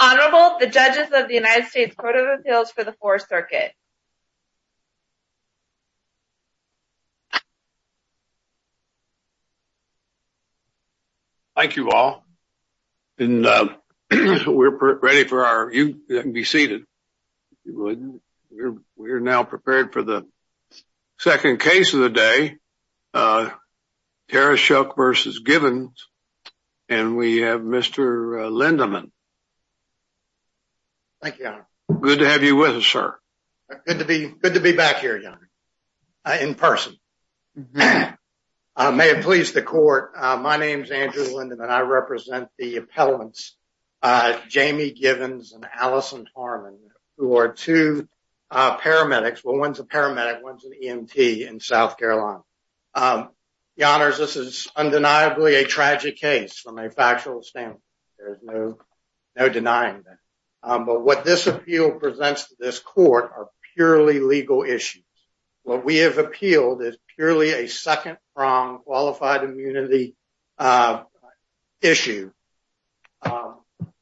Honorable, the judges of the United States Court of Appeals for the Fourth Circuit. Thank you all. We're ready for our, you can be seated. We're now prepared for the second case of the day, Tarashuk v. Givens, and we have Mr. Lindemann. Thank you, Your Honor. Good to have you with us, sir. Good to be back here, Your Honor, in person. May it please the court, my name is Andrew Lindemann. And I represent the appellants, Jamie Givens and Allison Harmon, who are two paramedics. Well, one's a paramedic, one's an EMT in South Carolina. Your Honors, this is undeniably a tragic case from a factual standpoint. There's no denying that. But what this appeal presents to this court are purely legal issues. What we have appealed is purely a second-pronged qualified immunity issue,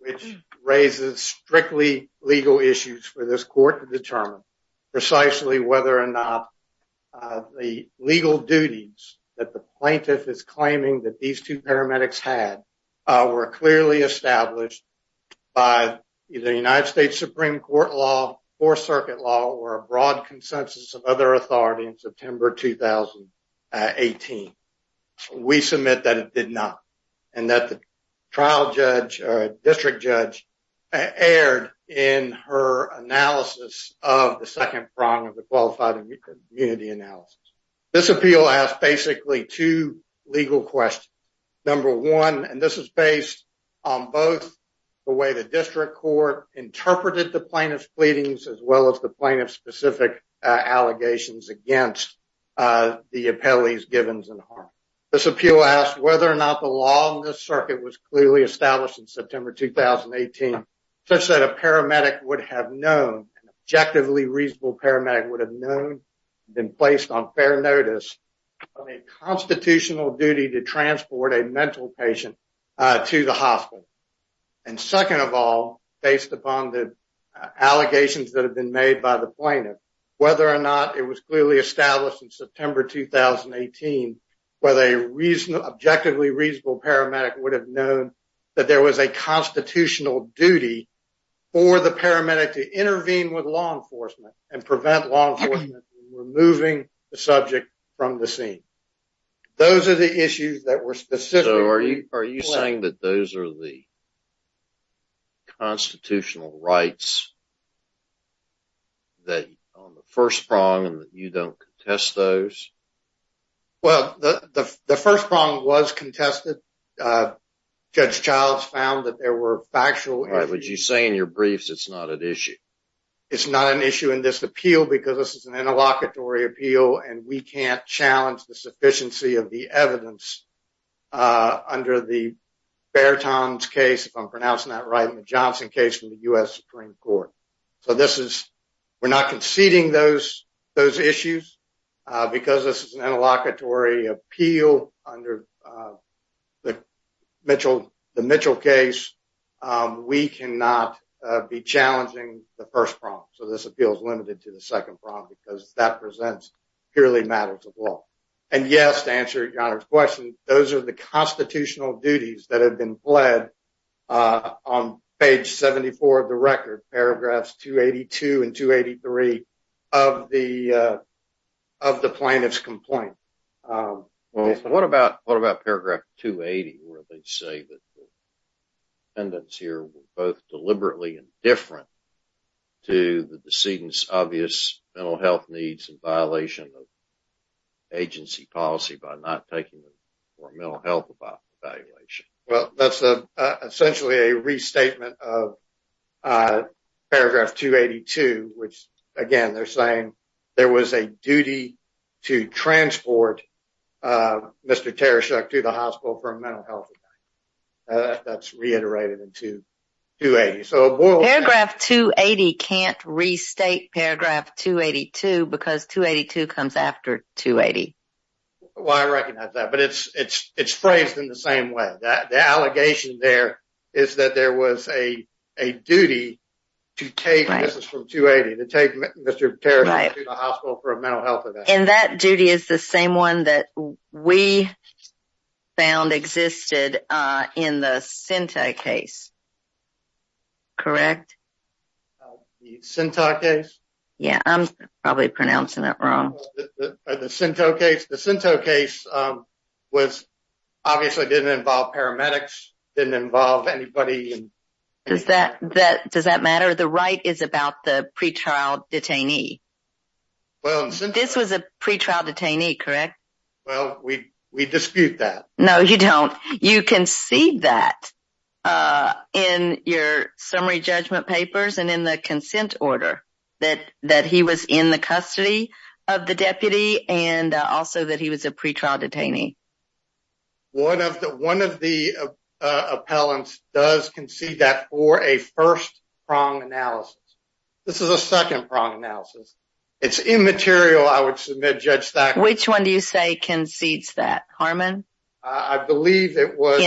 which raises strictly legal issues for this court to determine precisely whether or not the legal duties that the plaintiff is claiming that these two paramedics had were clearly established by the United States Supreme Court law, Fourth Circuit law, or a broad consensus of other authorities in September 2018. We submit that it did not, and that the district judge erred in her analysis of the second prong of the qualified immunity analysis. This appeal has basically two legal questions. Number one, and this is based on both the way the district court interpreted the plaintiff's pleadings, as well as the plaintiff's specific allegations against the appellees, Givens, and Harmon. This appeal asks whether or not the law in this circuit was clearly established in September 2018, such that a paramedic would have known, an objectively reasonable paramedic would have known, had been placed on fair notice of a constitutional duty to transport a mental patient to the hospital. And second of all, based upon the allegations that have been made by the plaintiff, whether or not it was clearly established in September 2018, whether an objectively reasonable paramedic would have known that there was a constitutional duty for the paramedic to intervene with law enforcement and prevent law enforcement from removing the subject from the scene. Those are the issues that were specifically- So are you saying that those are the constitutional rights on the first prong and that you don't contest those? Well, the first prong was contested. Judge Childs found that there were factual- Right, but you say in your briefs it's not an issue. It's not an issue in this appeal because this is an interlocutory appeal, and we can't challenge the sufficiency of the evidence under the Bairtons case, if I'm pronouncing that right, in the Johnson case from the U.S. Supreme Court. So this is- we're not conceding those issues because this is an interlocutory appeal under the Mitchell case. We cannot be challenging the first prong. So this appeal is limited to the second prong because that presents purely matters of law. And yes, to answer your question, those are the constitutional duties that have been pled on page 74 of the record, paragraphs 282 and 283 of the plaintiff's complaint. Well, what about paragraph 280 where they say that the defendants here were both deliberately indifferent to the decedent's obvious mental health needs in violation of agency policy by not taking their mental health evaluation? Well, that's essentially a restatement of paragraph 282, which, again, they're saying there was a duty to transport Mr. Tereshek to the hospital for a mental health event. That's reiterated in 280. Paragraph 280 can't restate paragraph 282 because 282 comes after 280. Well, I recognize that, but it's phrased in the same way. The allegation there is that there was a duty to take – this is from 280 – to take Mr. Tereshek to the hospital for a mental health event. And that duty is the same one that we found existed in the Cinto case, correct? The Cinto case? Yeah, I'm probably pronouncing that wrong. The Cinto case obviously didn't involve paramedics, didn't involve anybody. Does that matter? The right is about the pretrial detainee. This was a pretrial detainee, correct? Well, we dispute that. No, you don't. You concede that in your summary judgment papers and in the consent order that he was in the custody of the deputy and also that he was a pretrial detainee. One of the appellants does concede that for a first-prong analysis. This is a second-prong analysis. It's immaterial, I would submit, Judge Thacker. Which one do you say concedes that, Harmon? I believe it was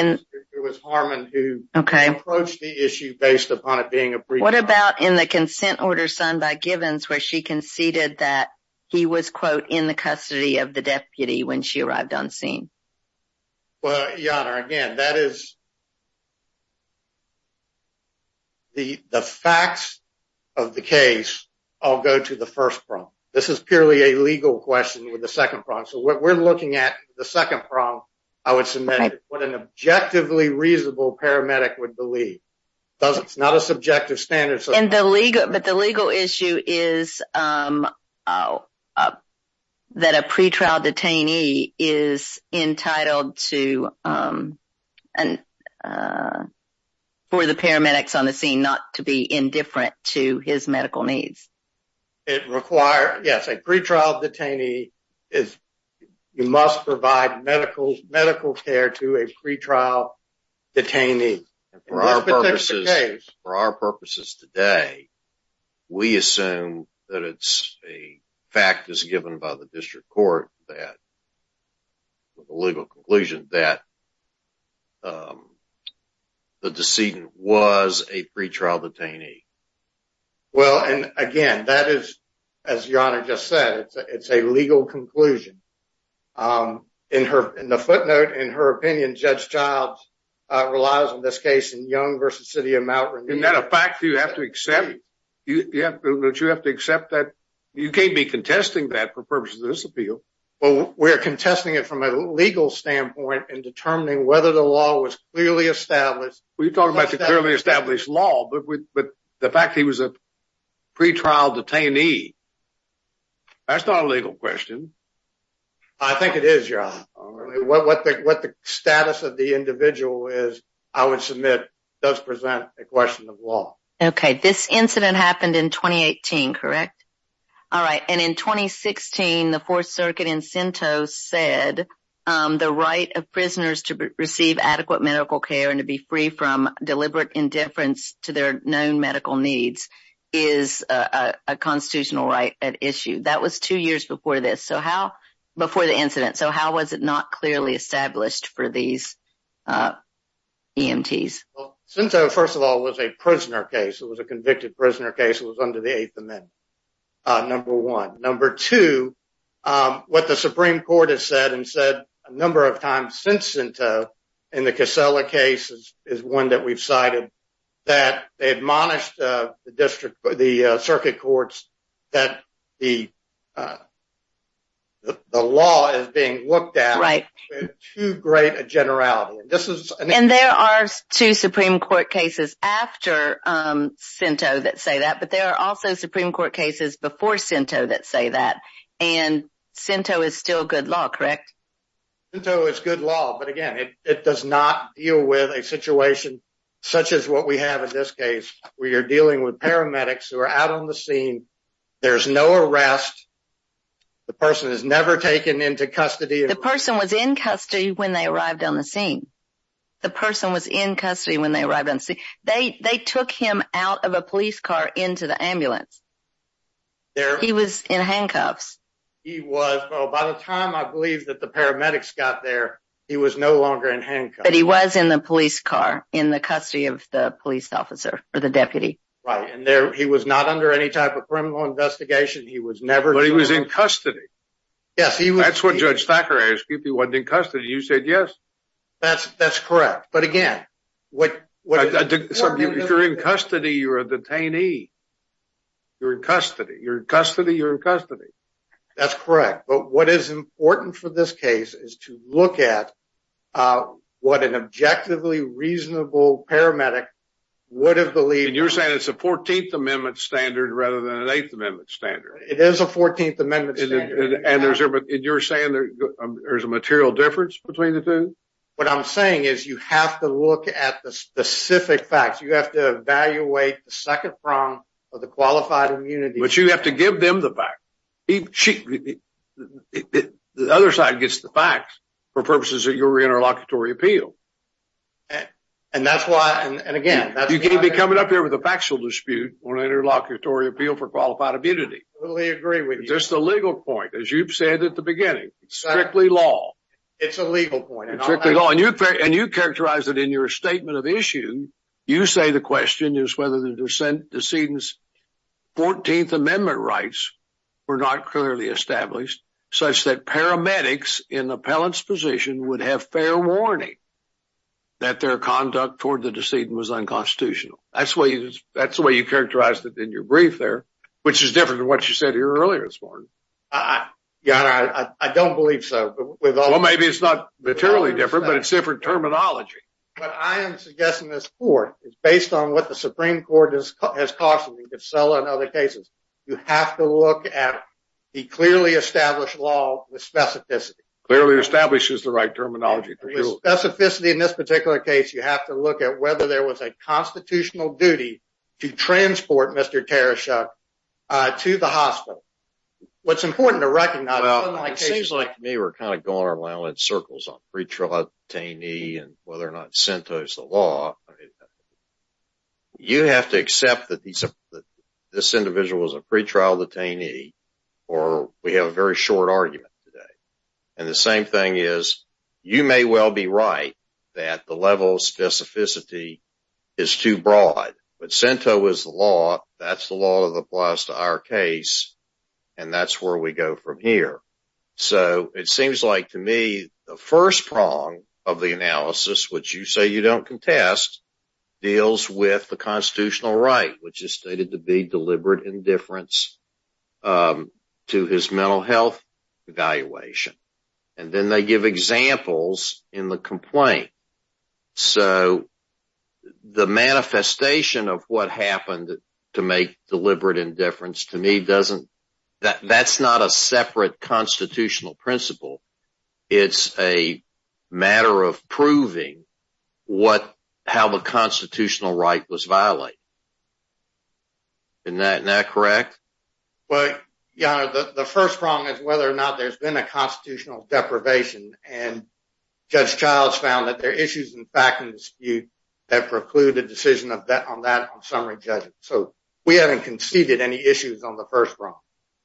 Harmon who approached the issue based upon it being a pretrial. What about in the consent order signed by Givens where she conceded that he was, quote, in the custody of the deputy when she arrived on scene? Well, Your Honor, again, that is – the facts of the case all go to the first-prong. This is purely a legal question with the second-prong. So we're looking at the second-prong, I would submit, what an objectively reasonable paramedic would believe. It's not a subjective standard. But the legal issue is that a pretrial detainee is entitled to – for the paramedics on the scene not to be indifferent to his medical needs. It requires – yes, a pretrial detainee is – you must provide medical care to a pretrial detainee. For our purposes today, we assume that it's a fact as given by the district court that – the legal conclusion that the decedent was a pretrial detainee. Well, and again, that is, as Your Honor just said, it's a legal conclusion. In the footnote, in her opinion, Judge Childs relies on this case in Young v. City of Mount Rainier. Isn't that a fact you have to accept? You have to accept that you can't be contesting that for purposes of this appeal. Well, we're contesting it from a legal standpoint in determining whether the law was clearly established. Well, you're talking about the clearly established law, but the fact he was a pretrial detainee, that's not a legal question. I think it is, Your Honor. What the status of the individual is, I would submit, does present a question of law. Okay. This incident happened in 2018, correct? All right. And in 2016, the Fourth Circuit in Cento said the right of prisoners to receive adequate medical care and to be free from deliberate indifference to their known medical needs is a constitutional right at issue. That was two years before this – before the incident. So how was it not clearly established for these EMTs? Well, Cento, first of all, was a prisoner case. It was a convicted prisoner case. It was under the Eighth Amendment, number one. Number two, what the Supreme Court has said and said a number of times since Cento in the Casella case is one that we've cited, that they admonished the Circuit Courts that the law is being looked at with too great a generality. And there are two Supreme Court cases after Cento that say that, but there are also Supreme Court cases before Cento that say that. And Cento is still good law, correct? Cento is good law, but again, it does not deal with a situation such as what we have in this case, where you're dealing with paramedics who are out on the scene. There's no arrest. The person is never taken into custody. The person was in custody when they arrived on the scene. The person was in custody when they arrived on the scene. They took him out of a police car into the ambulance. He was in handcuffs. He was, but by the time I believe that the paramedics got there, he was no longer in handcuffs. But he was in the police car in the custody of the police officer or the deputy. Right, and he was not under any type of criminal investigation. He was never – But he was in custody. Yes, he was. That's what Judge Thacker asked you if he wasn't in custody. You said yes. That's correct, but again, what – If you're in custody, you're a detainee. You're in custody. You're in custody, you're in custody. That's correct, but what is important for this case is to look at what an objectively reasonable paramedic would have believed – And you're saying it's a 14th Amendment standard rather than an 8th Amendment standard. It is a 14th Amendment standard. And you're saying there's a material difference between the two? What I'm saying is you have to look at the specific facts. You have to evaluate the second prong of the qualified immunity. But you have to give them the facts. The other side gets the facts for purposes of your interlocutory appeal. And that's why – and again – You can't be coming up here with a factual dispute on an interlocutory appeal for qualified immunity. I totally agree with you. It's just a legal point, as you've said at the beginning. It's strictly law. It's a legal point. It's strictly law. And you characterize it in your statement of issue. You say the question is whether the decedent's 14th Amendment rights were not clearly established, such that paramedics in the appellant's position would have fair warning that their conduct toward the decedent was unconstitutional. That's the way you characterized it in your brief there, which is different from what you said here earlier this morning. I don't believe so. Well, maybe it's not materially different, but it's different terminology. What I am suggesting to this court is based on what the Supreme Court has cautioned me to sell in other cases. You have to look at the clearly established law with specificity. Clearly established is the right terminology. With specificity in this particular case, you have to look at whether there was a constitutional duty to transport Mr. Teresha to the hospital. What's important to recognize… Well, it seems like to me we're kind of going around in circles on pretrial detainee and whether or not Sento's the law. You have to accept that this individual was a pretrial detainee, or we have a very short argument today. And the same thing is you may well be right that the level of specificity is too broad, but Sento is the law. That's the law that applies to our case, and that's where we go from here. So it seems like to me the first prong of the analysis, which you say you don't contest, deals with the constitutional right, which is stated to be deliberate indifference to his mental health evaluation. And then they give examples in the complaint. So the manifestation of what happened to make deliberate indifference to me doesn't… That's not a separate constitutional principle. It's a matter of proving how the constitutional right was violated. Isn't that correct? Well, Your Honor, the first prong is whether or not there's been a constitutional deprivation, and Judge Childs found that there are issues in fact and dispute that preclude a decision on that on summary judgment. So we haven't conceded any issues on the first prong.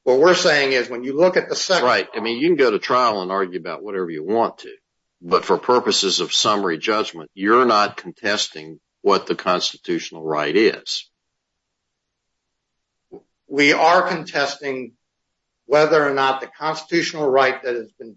What we're saying is when you look at the second… That's right. I mean, you can go to trial and argue about whatever you want to, but for purposes of summary judgment, you're not contesting what the constitutional right is. We are contesting whether or not the constitutional right that has been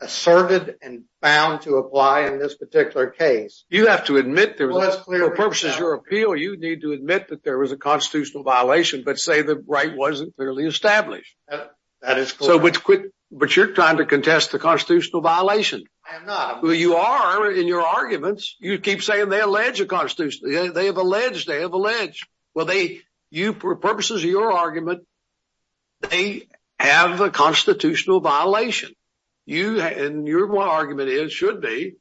asserted and found to apply in this particular case… You have to admit there was… Well, it's clear… For purposes of your appeal, you need to admit that there was a constitutional violation, but say the right wasn't clearly established. That is correct. But you're trying to contest the constitutional violation. I am not. Well, you are in your arguments. You keep saying they allege a constitutional… They have alleged. They have alleged. Well, for purposes of your argument, they have a constitutional violation. And your argument is, should be,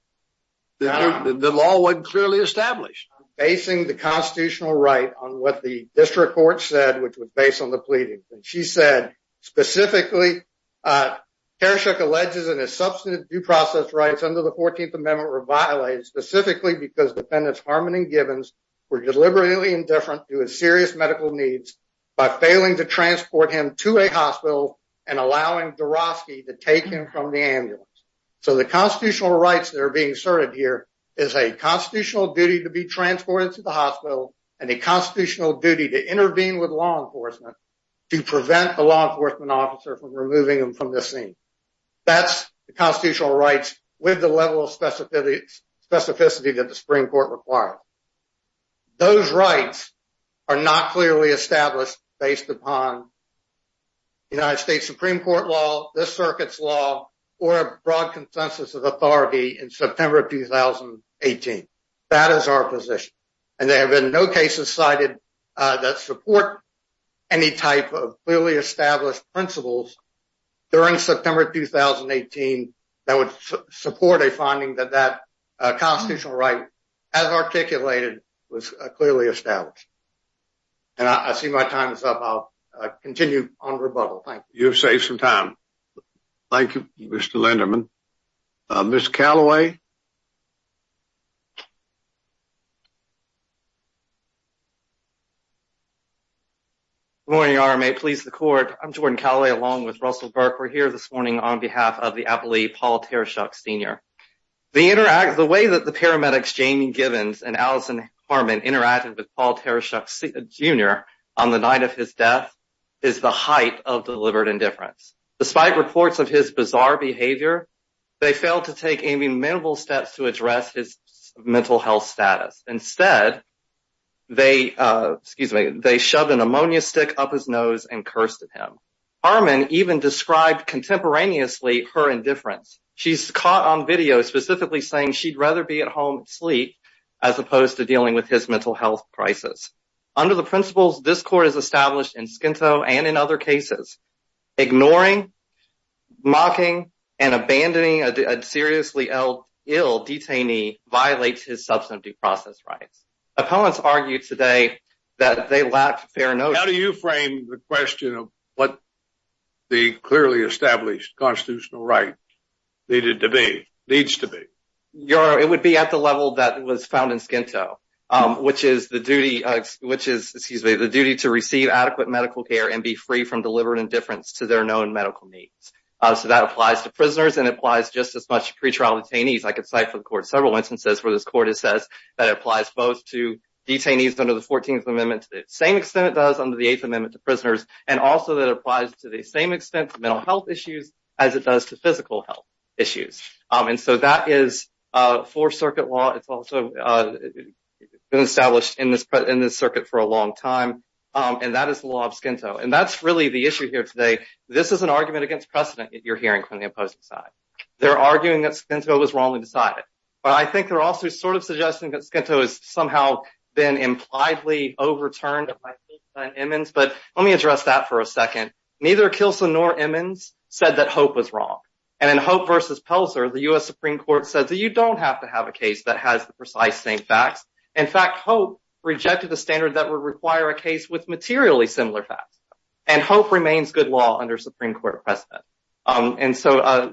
that the law wasn't clearly established. I'm basing the constitutional right on what the district court said, which was based on the pleadings. And she said, specifically, Tereshook alleges that his substantive due process rights under the 14th Amendment were violated specifically because defendants Harmon and Gibbons were deliberately indifferent to his serious medical needs by failing to transport him to a hospital and allowing Dorofsky to take him from the ambulance. So the constitutional rights that are being asserted here is a constitutional duty to be transported to the hospital and a constitutional duty to intervene with law enforcement to prevent the law enforcement officer from removing him from the scene. That's the constitutional rights with the level of specificity that the Supreme Court required. Those rights are not clearly established based upon United States Supreme Court law, this circuit's law, or a broad consensus of authority in September of 2018. That is our position. And there have been no cases cited that support any type of clearly established principles during September 2018 that would support a finding that that constitutional right, as articulated, was clearly established. And I see my time is up. I'll continue on rebuttal. Thank you. You've saved some time. Thank you, Mr. Linderman. Ms. Callaway. Good morning, RMA, police, the court. I'm Jordan Callaway, along with Russell Burke. We're here this morning on behalf of the appellee Paul Tereshok Sr. The way that the paramedics, Jamie Givens and Allison Harmon, interacted with Paul Tereshok Jr. on the night of his death is the height of deliberate indifference. Despite reports of his bizarre behavior, they failed to take any minimal steps to address his mental health status. Instead, they shoved an ammonia stick up his nose and cursed at him. Harmon even described contemporaneously her indifference. She's caught on video specifically saying she'd rather be at home asleep as opposed to dealing with his mental health crisis. Under the principles this court has established in Skinto and in other cases, ignoring, mocking and abandoning a seriously ill detainee violates his substantive due process rights. Opponents argued today that they lacked fair notion. How do you frame the question of what the clearly established constitutional right needed to be, needs to be? It would be at the level that was found in Skinto, which is the duty to receive adequate medical care and be free from deliberate indifference to their known medical needs. So that applies to prisoners and applies just as much to pretrial detainees. I could cite for the court several instances where this court has said that it applies both to detainees under the 14th Amendment to the same extent it does under the 8th Amendment to prisoners and also that it applies to the same extent to mental health issues as it does to physical health issues. And so that is Fourth Circuit law. It's also been established in this circuit for a long time. And that is the law of Skinto. And that's really the issue here today. This is an argument against precedent you're hearing from the opposing side. They're arguing that Skinto was wrongly decided. But I think they're also sort of suggesting that Skinto has somehow been impliedly overturned by Kilsa and Immons. But let me address that for a second. Neither Kilsa nor Immons said that Hope was wrong. And in Hope v. Pelzer, the U.S. Supreme Court said that you don't have to have a case that has the precise same facts. In fact, Hope rejected the standard that would require a case with materially similar facts. And Hope remains good law under Supreme Court precedent. And so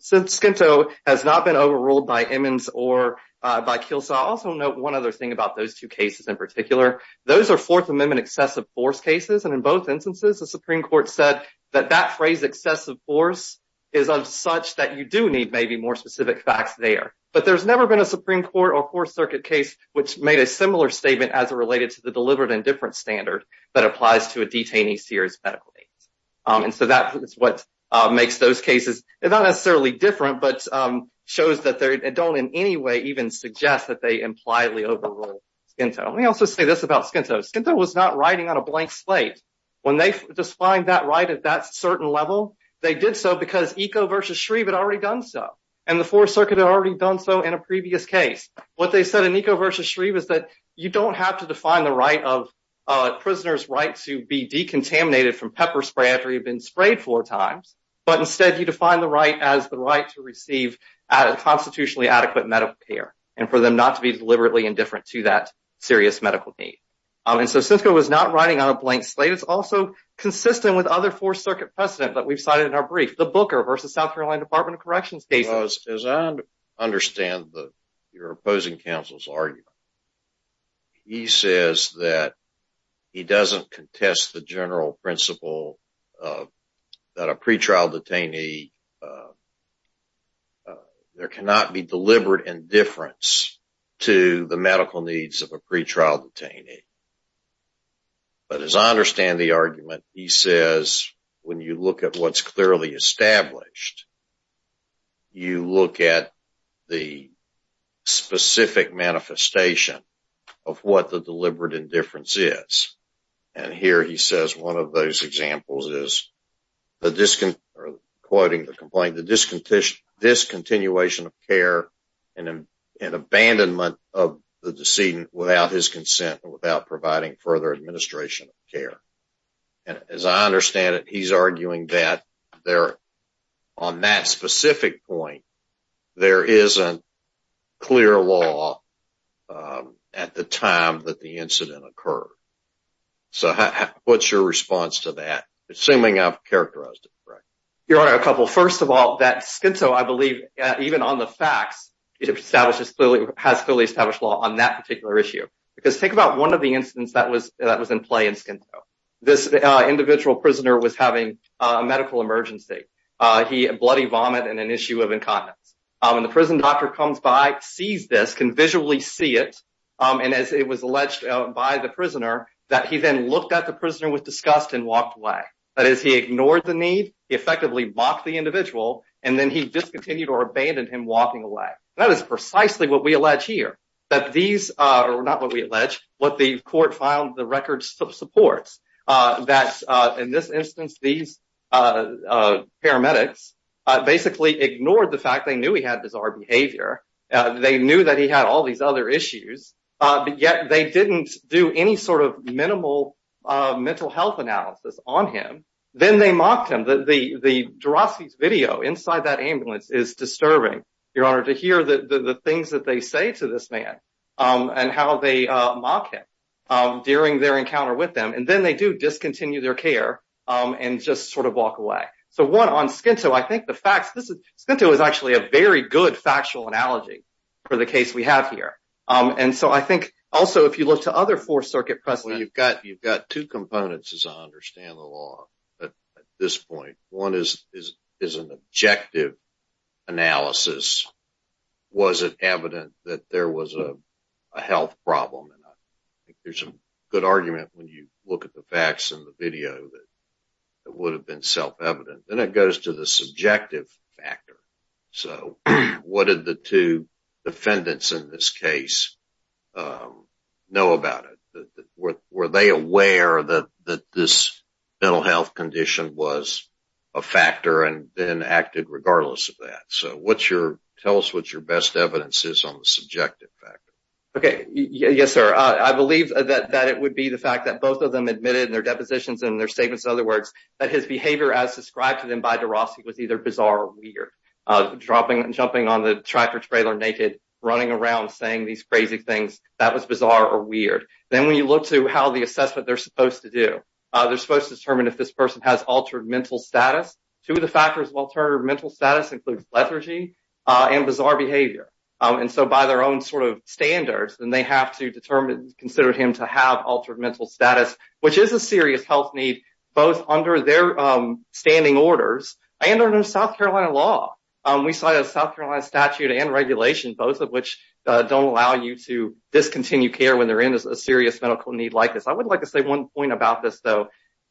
Skinto has not been overruled by Immons or by Kilsa. I'll also note one other thing about those two cases in particular. Those are Fourth Amendment excessive force cases. And in both instances, the Supreme Court said that that phrase, excessive force, is of such that you do need maybe more specific facts there. But there's never been a Supreme Court or Fourth Circuit case which made a similar statement as it related to the deliberate indifference standard that applies to a detainee's serious medical needs. And so that is what makes those cases not necessarily different but shows that they don't in any way even suggest that they impliedly overrule Skinto. Let me also say this about Skinto. Skinto was not riding on a blank slate. When they defined that right at that certain level, they did so because Eco v. Shreve had already done so. And the Fourth Circuit had already done so in a previous case. What they said in Eco v. Shreve is that you don't have to define the right of a prisoner's right to be decontaminated from pepper spray after you've been sprayed four times, but instead you define the right as the right to receive a constitutionally adequate medical care and for them not to be deliberately indifferent to that serious medical need. And so Skinto was not riding on a blank slate. It's also consistent with other Fourth Circuit precedent that we've cited in our brief, the Booker v. South Carolina Department of Corrections case. As I understand your opposing counsel's argument, he says that he doesn't contest the general principle that a pretrial detainee, there cannot be deliberate indifference to the medical needs of a pretrial detainee. But as I understand the argument, he says when you look at what's clearly established, you look at the specific manifestation of what the deliberate indifference is. And here he says one of those examples is, quoting the complaint, the discontinuation of care and abandonment of the decedent without his providing further administration of care. And as I understand it, he's arguing that on that specific point, there isn't clear law at the time that the incident occurred. So what's your response to that, assuming I've characterized it correctly? Your Honor, a couple. First of all, that Skinto, I believe, even on the facts, has clearly established law on that particular issue. Because think about one of the incidents that was in play in Skinto. This individual prisoner was having a medical emergency. He had bloody vomit and an issue of incontinence. And the prison doctor comes by, sees this, can visually see it, and as it was alleged by the prisoner, that he then looked at the prisoner with disgust and walked away. That is, he ignored the need, he effectively walked the individual, and then he discontinued or abandoned him walking away. That is precisely what we allege here, that these, or not what we allege, what the court found the record supports. That in this instance, these paramedics basically ignored the fact they knew he had bizarre behavior. They knew that he had all these other issues, but yet they didn't do any sort of minimal mental health analysis on him. Then they mocked him. The de Rossi's video inside that ambulance is disturbing. Your Honor, to hear the things that they say to this man, and how they mock him during their encounter with them, and then they do discontinue their care and just sort of walk away. So one, on Skinto, I think the facts, Skinto is actually a very good factual analogy for the case we have here. And so I think also if you look to other Fourth Circuit precedents. Well, you've got two components as I understand the law at this point. One is an objective analysis. Was it evident that there was a health problem? There's a good argument when you look at the facts in the video that it would have been self-evident. Then it goes to the subjective factor. So what did the two defendants in this case know about it? Were they aware that this mental health condition was a factor and then acted regardless of that? So tell us what your best evidence is on the subjective factor. Okay. Yes, sir. I believe that it would be the fact that both of them admitted in their depositions and their statements, in other words, that his behavior as described to them by de Rossi was either bizarre or weird. Jumping on the tractor-trailer naked, running around, saying these crazy things, that was bizarre or weird. Then when you look to how the assessment they're supposed to do, they're supposed to determine if this person has altered mental status. Two of the factors of altered mental status include lethargy and bizarre behavior. And so by their own sort of standards, then they have to determine and consider him to have altered mental status, which is a serious health need both under their standing orders and under South Carolina law. We saw the South Carolina statute and regulation, both of which don't allow you to discontinue care when they're in a serious medical need like this. I would like to say one point about this, though.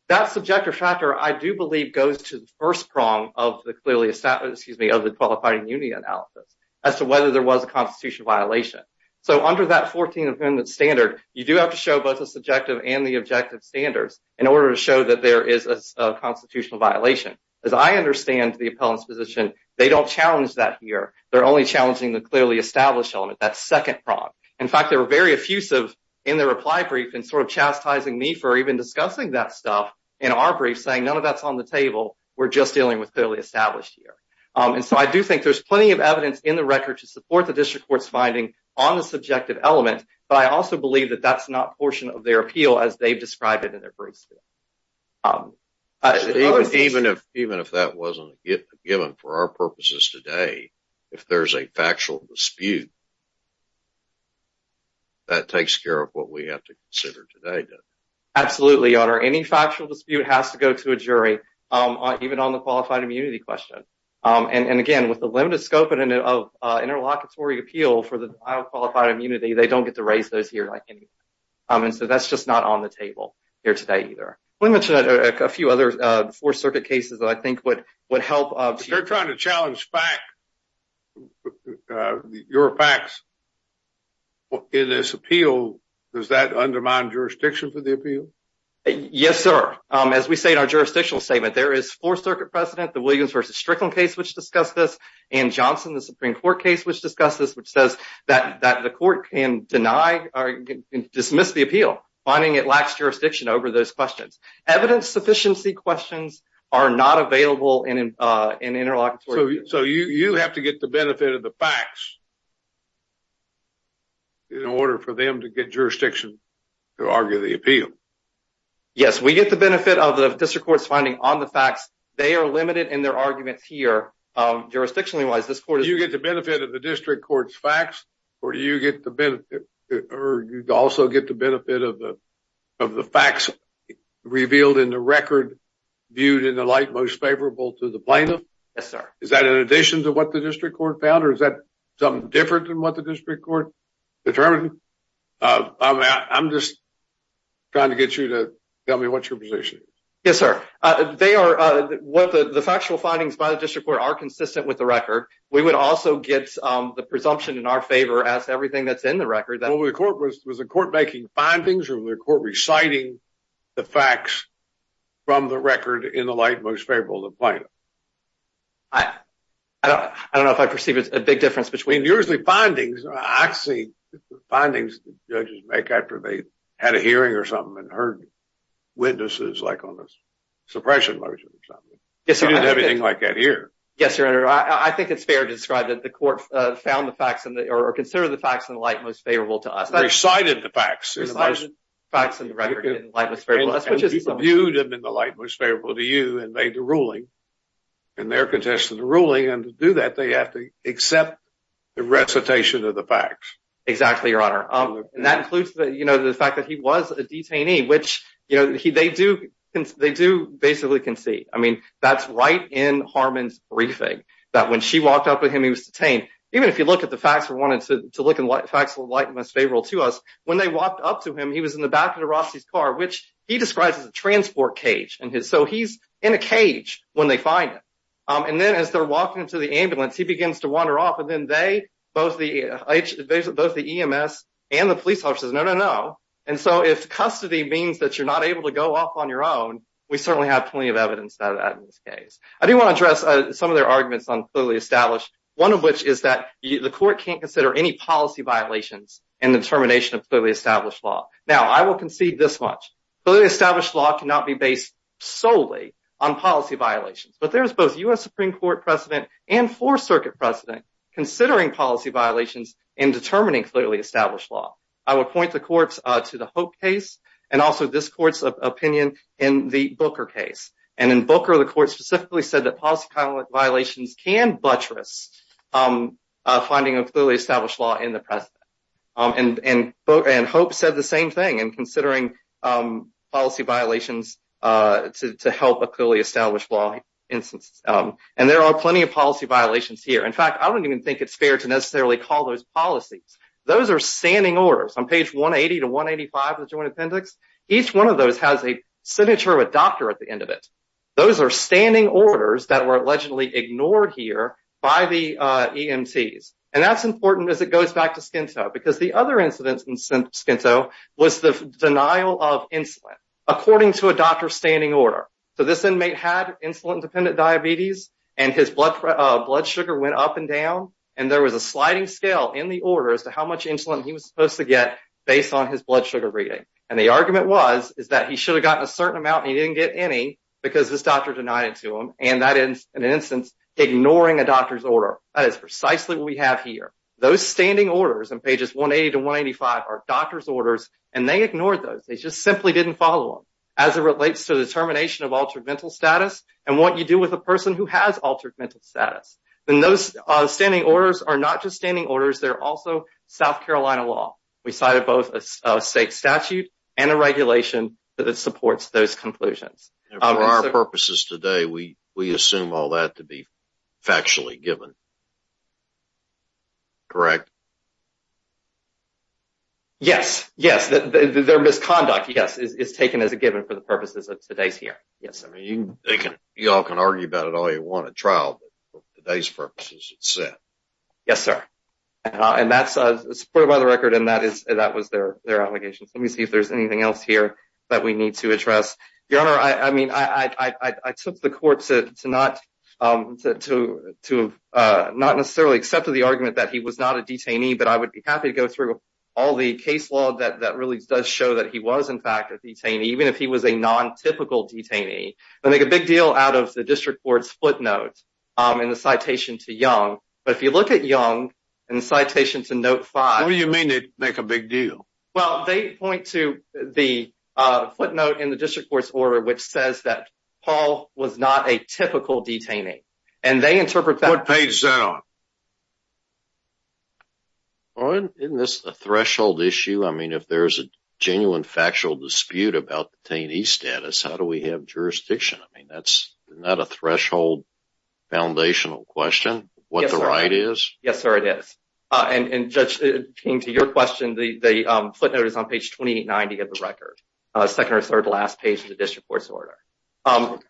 That subjective factor, I do believe, goes to the first prong of the qualified immunity analysis as to whether there was a constitutional violation. So under that 14th Amendment standard, you do have to show both the subjective and the objective standards in order to show that there is a constitutional violation. As I understand the appellant's position, they don't challenge that here. They're only challenging the clearly established element, that second prong. In fact, they were very effusive in their reply brief and sort of chastising me for even discussing that stuff in our brief, saying none of that's on the table. We're just dealing with clearly established here. And so I do think there's plenty of evidence in the record to support the district court's finding on the subjective element, but I also believe that that's not a portion of their appeal as they've described it in their briefs. Even if that wasn't given for our purposes today, if there's a factual dispute, that takes care of what we have to consider today, doesn't it? Absolutely, Your Honor. Any factual dispute has to go to a jury, even on the qualified immunity question. And again, with the limited scope of interlocutory appeal for the file of qualified immunity, they don't get to raise those here like any other. And so that's just not on the table here today either. We mentioned a few other Fourth Circuit cases that I think would help. If they're trying to challenge your facts in this appeal, does that undermine jurisdiction for the appeal? Yes, sir. As we say in our jurisdictional statement, there is Fourth Circuit precedent, the Williams v. Strickland case, which discussed this, and Johnson, the Supreme Court case, which discussed this, which says that the court can deny or dismiss the appeal, finding it lacks jurisdiction over those questions. Evidence-sufficiency questions are not available in interlocutory. So you have to get the benefit of the facts in order for them to get jurisdiction to argue the appeal? Yes, we get the benefit of the district court's finding on the facts. They are limited in their arguments here, jurisdictionally-wise. Do you get the benefit of the district court's facts, or do you also get the benefit of the facts revealed in the record, viewed in the light most favorable to the plaintiff? Yes, sir. Is that in addition to what the district court found, or is that something different than what the district court determined? I'm just trying to get you to tell me what your position is. Yes, sir. The factual findings by the district court are consistent with the record. We would also get the presumption in our favor as everything that's in the record. Was the court making findings, or was the court reciting the facts from the record in the light most favorable to the plaintiff? I don't know if I perceive a big difference between the two. Usually findings, I see the findings the judges make after they've had a hearing or something and heard witnesses like on the suppression motion or something. You don't have anything like that here. Yes, your honor. I think it's fair to describe that the court found the facts or considered the facts in the light most favorable to us. Recited the facts. Recited the facts in the record in the light most favorable to us. And viewed them in the light most favorable to you and made the ruling, and there contested the ruling. And to do that, they have to accept the recitation of the facts. Exactly, your honor. And that includes the fact that he was a detainee, which they do. They do basically concede. I mean, that's right in Harmon's briefing that when she walked up with him, he was detained. Even if you look at the facts, we wanted to look at the facts in the light most favorable to us. When they walked up to him, he was in the back of the Rossi's car, which he describes as a transport cage. So he's in a cage when they find him. And then as they're walking into the ambulance, he begins to wander off. And then they, both the EMS and the police officer says, no, no, no. And so if custody means that you're not able to go off on your own, we certainly have plenty of evidence of that in this case. I do want to address some of their arguments on clearly established, one of which is that the court can't consider any policy violations in the termination of clearly established law. Now, I will concede this much. Clearly established law cannot be based solely on policy violations. But there's both U.S. Supreme Court precedent and Fourth Circuit precedent considering policy violations in determining clearly established law. I would point the courts to the Hope case and also this court's opinion in the Booker case. And in Booker, the court specifically said that policy violations can buttress finding a clearly established law in the precedent. And Hope said the same thing in considering policy violations to help a clearly established law instance. And there are plenty of policy violations here. In fact, I don't even think it's fair to necessarily call those policies. Those are standing orders. On page 180 to 185 of the Joint Appendix, each one of those has a signature of a doctor at the end of it. Those are standing orders that were allegedly ignored here by the EMTs. And that's important as it goes back to Skinto, because the other incident in Skinto was the denial of insulin, according to a doctor's standing order. So this inmate had insulin-dependent diabetes, and his blood sugar went up and down, and there was a sliding scale in the order as to how much insulin he was supposed to get based on his blood sugar reading. And the argument was is that he should have gotten a certain amount and he didn't get any because this doctor denied it to him, and that is, in an instance, ignoring a doctor's order. That is precisely what we have here. Those standing orders on pages 180 to 185 are doctor's orders, and they ignored those. They just simply didn't follow them. As it relates to the termination of altered mental status and what you do with a person who has altered mental status, then those standing orders are not just standing orders. They're also South Carolina law. We cited both a state statute and a regulation that supports those conclusions. And for our purposes today, we assume all that to be factually given, correct? Yes, yes. Their misconduct, yes, is taken as a given for the purposes of today's hearing. Yes. Y'all can argue about it all you want at trial, but for today's purposes it's set. Yes, sir. And that's supported by the record, and that was their obligation. Let me see if there's anything else here that we need to address. Your Honor, I mean, I took the court to not necessarily accept the argument that he was not a detainee, but I would be happy to go through all the case law that really does show that he was, in fact, a detainee, even if he was a non-typical detainee. They make a big deal out of the district court's footnote in the citation to Young. But if you look at Young in the citation to Note 5. What do you mean they make a big deal? Well, they point to the footnote in the district court's order which says that Paul was not a typical detainee, and they interpret that. What page is that on? Isn't this a threshold issue? I mean, if there's a genuine factual dispute about detainee status, how do we have jurisdiction? I mean, isn't that a threshold foundational question, what the right is? Yes, sir, it is. And, Judge, it came to your question, the footnote is on page 2890 of the record, second or third to the last page of the district court's order. What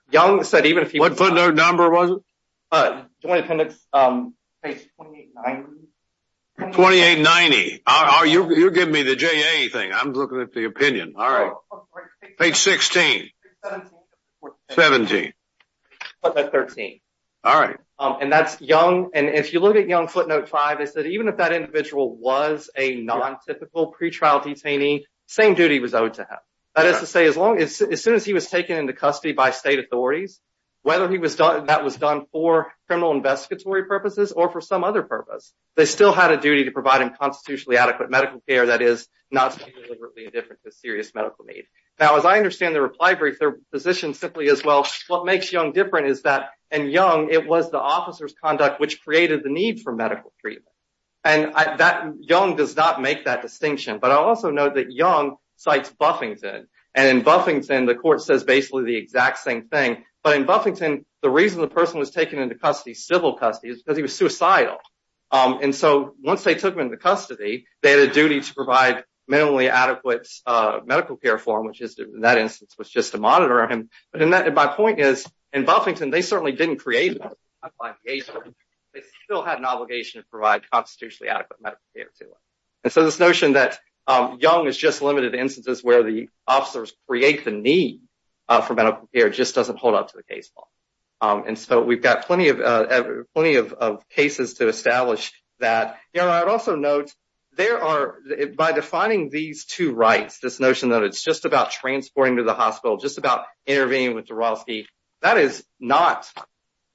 footnote number was it? Joint appendix, page 2890. 2890. You're giving me the JA thing. I'm looking at the opinion. All right. Page 16. 17. Footnote 13. All right. And that's Young. And if you look at Young footnote 5, it says even if that individual was a non-typical pretrial detainee, the same duty was owed to him. That is to say, as soon as he was taken into custody by state authorities, whether that was done for criminal investigatory purposes or for some other purpose, they still had a duty to provide him constitutionally adequate medical care that is not to be deliberately indifferent to serious medical need. Now, as I understand the reply brief, the position simply is, well, what makes Young different is that in Young it was the officer's conduct which created the need for medical treatment. And Young does not make that distinction. But I also note that Young cites Buffington. And in Buffington the court says basically the exact same thing, but in Buffington the reason the person was taken into custody, civil custody, is because he was suicidal. And so once they took him into custody, they had a duty to provide minimally adequate medical care for him, which in that instance was just to monitor him. But my point is in Buffington they certainly didn't create that obligation. They still had an obligation to provide constitutionally adequate medical care to him. And so this notion that Young is just limited to instances where the And so we've got plenty of cases to establish that. You know, I would also note there are, by defining these two rights, this notion that it's just about transporting to the hospital, just about intervening with Dorofsky, that is not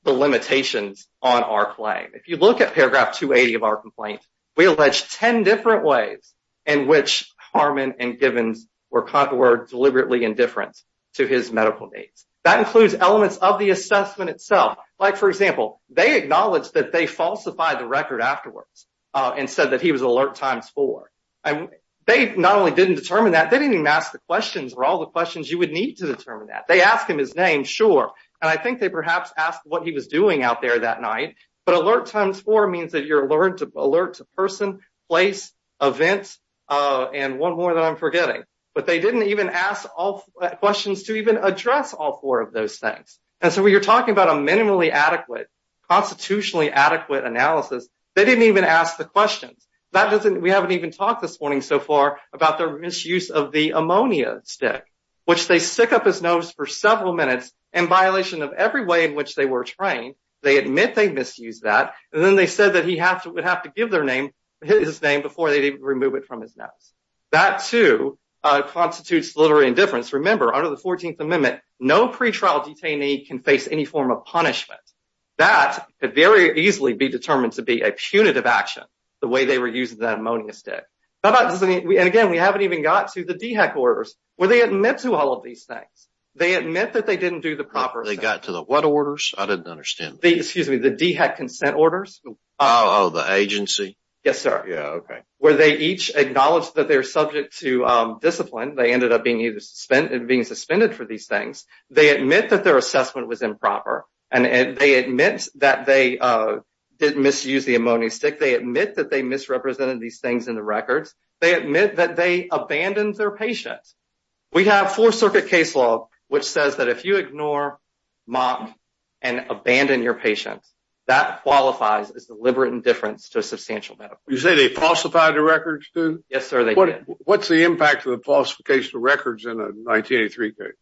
the limitations on our claim. If you look at paragraph 280 of our complaint, we allege 10 different ways in which Harmon and Gibbons were deliberately indifferent to his medical needs. That includes elements of the assessment itself. Like, for example, they acknowledged that they falsified the record afterwards and said that he was alert times four. They not only didn't determine that, they didn't even ask the questions or all the questions you would need to determine that. They asked him his name, sure, and I think they perhaps asked what he was doing out there that night. But alert times four means that you're alert to person, place, event, and one more that I'm forgetting. But they didn't even ask all questions to even address all four of those things. And so when you're talking about a minimally adequate, constitutionally adequate analysis, they didn't even ask the questions. That doesn't, we haven't even talked this morning so far about the misuse of the ammonia stick, which they stick up his nose for several minutes, in violation of every way in which they were trained. They admit they misused that. And then they said that he would have to give their name, his name before they didn't remove it from his nose. That too constitutes literary indifference. Remember under the 14th amendment, no pretrial detainee can face any form of punishment. That could very easily be determined to be a punitive action, the way they were using that ammonia stick. And again, we haven't even got to the DHEC orders where they admit to all of these things. They admit that they didn't do the proper. They got to the what orders? I didn't understand. The excuse me, the DHEC consent orders. Oh, the agency. Yes, sir. Yeah. Okay. Where they each acknowledge that they're subject to discipline. They ended up being either spent and being suspended for these things. They admit that their assessment was improper. And they admit that they didn't misuse the ammonia stick. They admit that they misrepresented these things in the records. They admit that they abandoned their patients. We have four circuit case law, which says that if you ignore mock and abandon your patients, that qualifies as deliberate indifference to a substantial benefit. You say they falsified the records too? Yes, sir. What's the impact of the falsification of records in a 1983 case?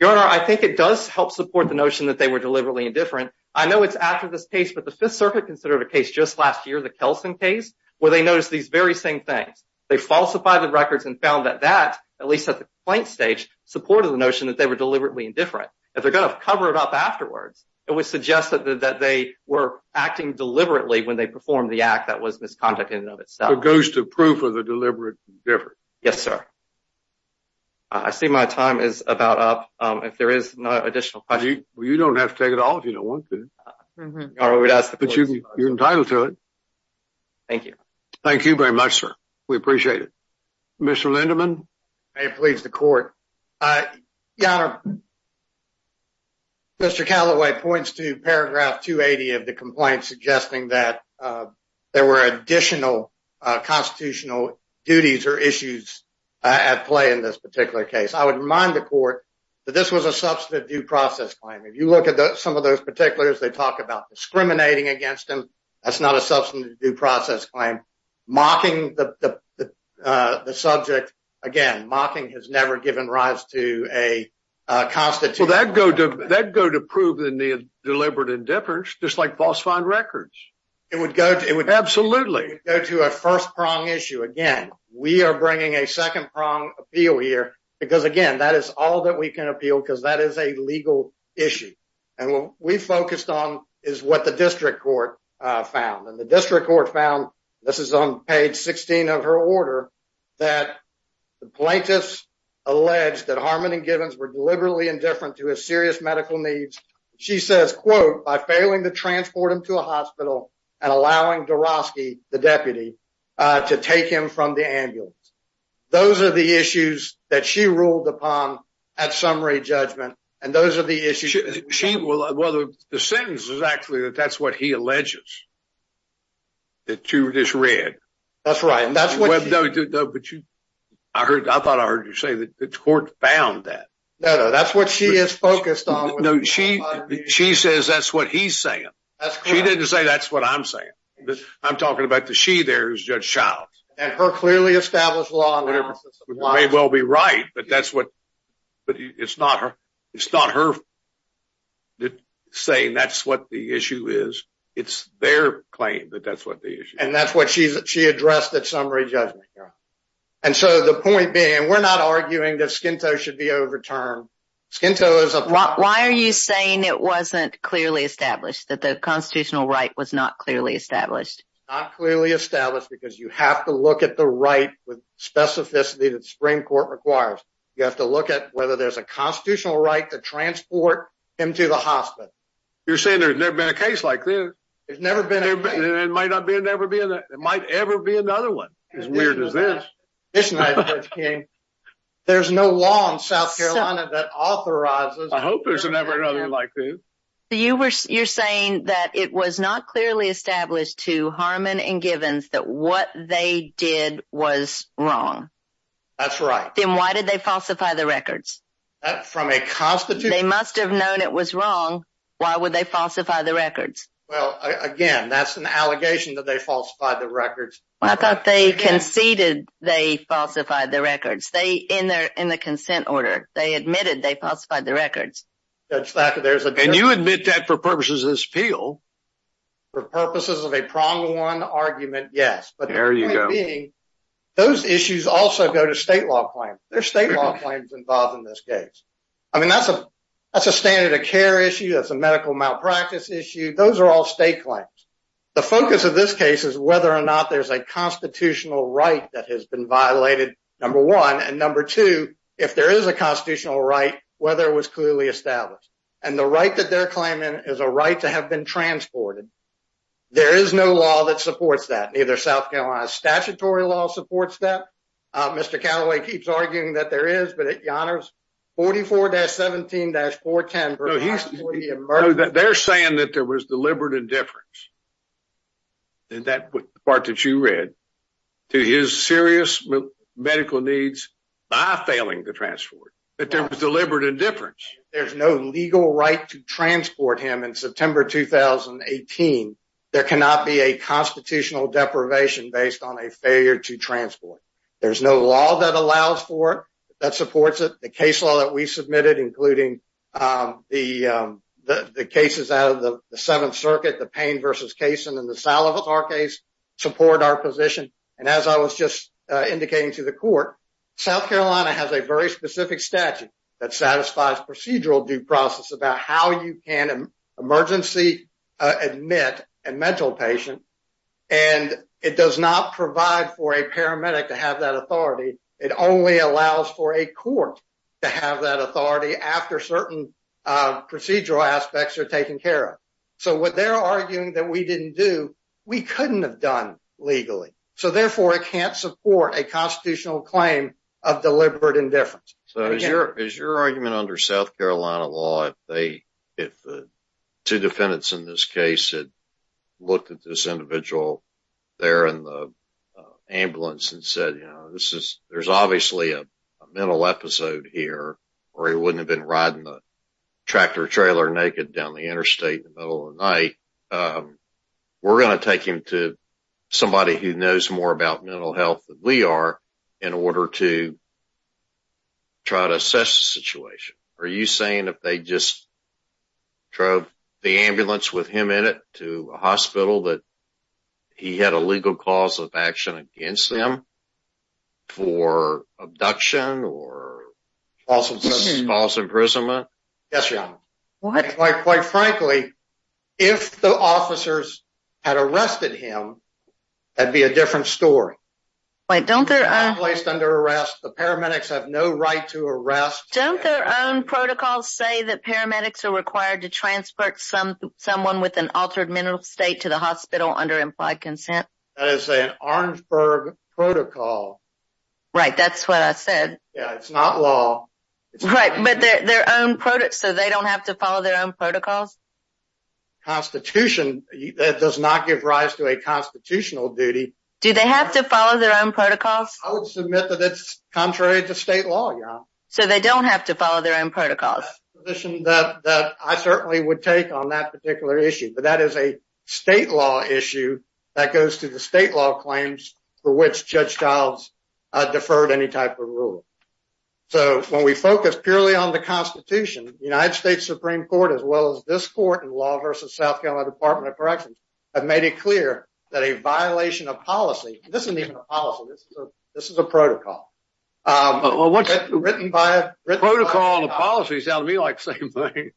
Your Honor, I think it does help support the notion that they were deliberately indifferent. I know it's after this case, but the fifth circuit considered a case just last year, the Kelson case, where they noticed these very same things. They falsified the records and found that that, at least at the complaint stage, supported the notion that they were deliberately indifferent. If they're going to cover it up afterwards, it was suggested that they were acting deliberately when they performed the conduct in and of itself. So it goes to proof of the deliberate indifference. Yes, sir. I see my time is about up. If there is no additional questions. Well, you don't have to take it off if you don't want to. Your Honor, we would ask the court to. But you're entitled to it. Thank you. Thank you very much, sir. We appreciate it. Mr. Lindeman. May it please the court. Your Honor, Mr. Callaway points to paragraph 280 of the complaint, suggesting that there were additional constitutional duties or issues at play in this particular case. I would remind the court that this was a substantive due process claim. If you look at some of those particulars, they talk about discriminating against them. That's not a substantive due process claim. Mocking the subject. Again, mocking has never given rise to a constitute. Well, that go to that go to prove the deliberate indifference, just like false find records. It would go. It would absolutely go to a first prong issue. Again, we are bringing a second prong appeal here because, again, that is all that we can appeal because that is a legal issue. And what we focused on is what the district court found. And the district court found this is on page 16 of her order. That the plaintiffs alleged that Harmon and Gibbons were deliberately indifferent to a serious medical needs. She says, quote, by failing to transport him to a hospital and allowing the Roski, the deputy to take him from the ambulance. Those are the issues that she ruled upon at summary judgment. And those are the issues. Well, the sentence is actually that that's what he alleges. The two of this red. That's right. And that's what I heard. I thought I heard you say that the court found that. No, that's what she is focused on. No, she, she says, that's what he's saying. She didn't say that's what I'm saying. I'm talking about the, she, there's just child. And her clearly established law may well be right, but that's what. But it's not her. It's not her. That saying that's what the issue is. It's their claim that that's what the issue. And that's what she's, she addressed that summary judgment. And so the point being, we're not arguing that skintone should be overturned. Skin toes. Why are you saying it wasn't clearly established that the constitutional right was not clearly established. Clearly established because you have to look at the right with specificity that spring court requires. You have to look at whether there's a constitutional right to transport him to the hospital. You're saying there's never been a case like this. There's never been. It might not be a, never be in there. It might ever be another one. As weird as this. There's no law in South Carolina that authorizes. I hope there's a never another like this. You were, you're saying that it was not clearly established to Harmon and givens that what they did was wrong. That's right. Then why did they falsify the records? From a constitute. They must've known it was wrong. Why would they falsify the records? Well, again, that's an allegation that they falsified the records. I thought they conceded. They falsified the records. They in their, in the consent order, they admitted they falsified the records. And you admit that for purposes of this appeal. For purposes of a prong one argument. Yes, but those issues also go to state law claims. There's state law claims involved in this case. I mean, that's a, that's a standard of care issue. That's a medical malpractice issue. Those are all state claims. The focus of this case is whether or not there's a constitutional right that has been violated. Number one. And number two, if there is a constitutional right, whether it was clearly established. And the right that they're claiming is a right to have been transported. There is no law that supports that. Neither South Carolina statutory law supports that. Mr. Callaway keeps arguing that there is, but at Yonner's 44 dash 17 dash four, 10. They're saying that there was deliberate indifference. And that part that you read. To his serious medical needs. By failing to transport. That there was deliberate indifference. There's no legal right to transport him in September, 2018. There cannot be a constitutional deprivation based on a failure to transport. There's no law that allows for that supports it. The case law that we submitted, including the, the cases out of the seventh circuit, the pain versus case. And then the salad with our case. Support our position. And as I was just indicating to the court, South Carolina has a very specific statute that satisfies procedural due process about how you can emergency. Admit a mental patient. And it does not provide for a paramedic to have that authority. It only allows for a court. To have that authority after certain procedural aspects are taken care of. So what they're arguing that we didn't do, we couldn't have done legally. So therefore it can't support a constitutional claim of deliberate indifference. Is your argument under South Carolina law? If the two defendants in this case had looked at this individual there in the ambulance and said, you know, this is, there's obviously a mental episode here, or he wouldn't have been riding the tractor trailer naked down the interstate in the middle of the night. We're going to take him to somebody who knows more about mental health than we are in order to try to assess the situation. Are you saying if they just drove the ambulance with him in it to a hospital, that he had a legal cause of action against them for abduction or false imprisonment? Yes, Your Honor. Quite frankly, if the officers had arrested him, that'd be a different story. Don't they're placed under arrest. The paramedics have no right to arrest. Don't their own protocols say that paramedics are required to transport someone with an altered mental state to the hospital under implied consent? That is an Orangeburg protocol. Right. That's what I said. Yeah. It's not law. Right. But their own product. So they don't have to follow their own protocols. Constitution. That does not give rise to a constitutional duty. Do they have to follow their own protocols? I would submit that it's contrary to state law. So they don't have to follow their own protocols. That I certainly would take on that particular issue. But that is a state law issue that goes to the state law claims for which Judge Childs deferred any type of rule. So when we focus purely on the constitution, the United States Supreme Court, as well as this court and law versus South Carolina Department of Corrections have made it clear that a violation of policy, this isn't even a policy. This is a protocol. Protocol and policy sound to me like the same thing.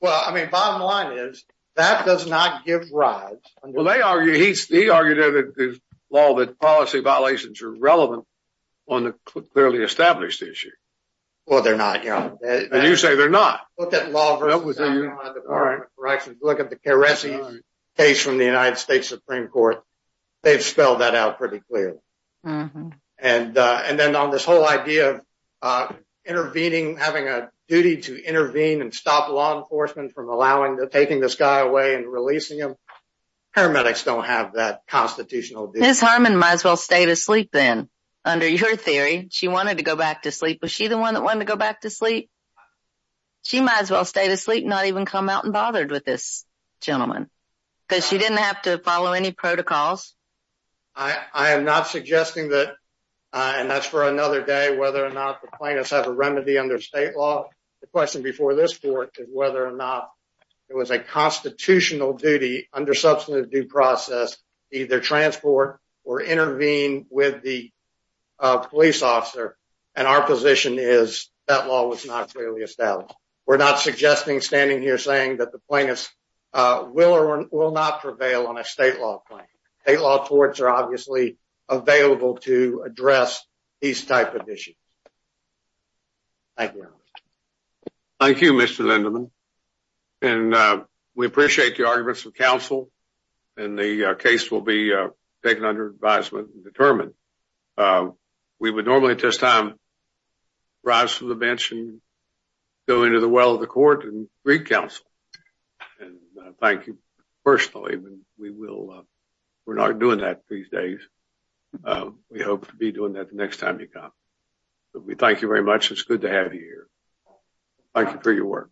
Well, I mean, bottom line is that does not give rise. Well, they argue, he argued in his law, that policy violations are relevant on the clearly established issue. Well, they're not. And you say they're not. Look at law versus South Carolina Department of Corrections. Look at the Caressi case from the United States Supreme Court. They've spelled that out pretty clearly. And then on this whole idea of intervening, having a duty to intervene and stop law enforcement from allowing the, taking this guy away and releasing him. Paramedics don't have that constitutional. Harman might as well stay to sleep then under your theory. She wanted to go back to sleep. Was she the one that wanted to go back to sleep? She might as well stay to sleep, not even come out and bothered with this gentleman because she didn't have to follow any protocols. I am not suggesting that, and that's for another day, whether or not the plaintiffs have a remedy under state law. The question before this court is whether or not it was a constitutional duty under substantive due process, either transport or intervene with the police officer. And our position is that law was not clearly established. We're not suggesting standing here saying that the plaintiffs will or will not prevail on a state law claim. State law courts are obviously available to address these type of issues. Thank you. Thank you, Mr. Lindeman. And we appreciate the arguments of counsel and the case will be taken under advisement and determined. We would normally at this time rise from the bench and go into the well of the court and read counsel. And thank you personally. We will, we're not doing that these days. We hope to be doing that the next time you come. We thank you very much. It's good to have you here. Thank you for your work.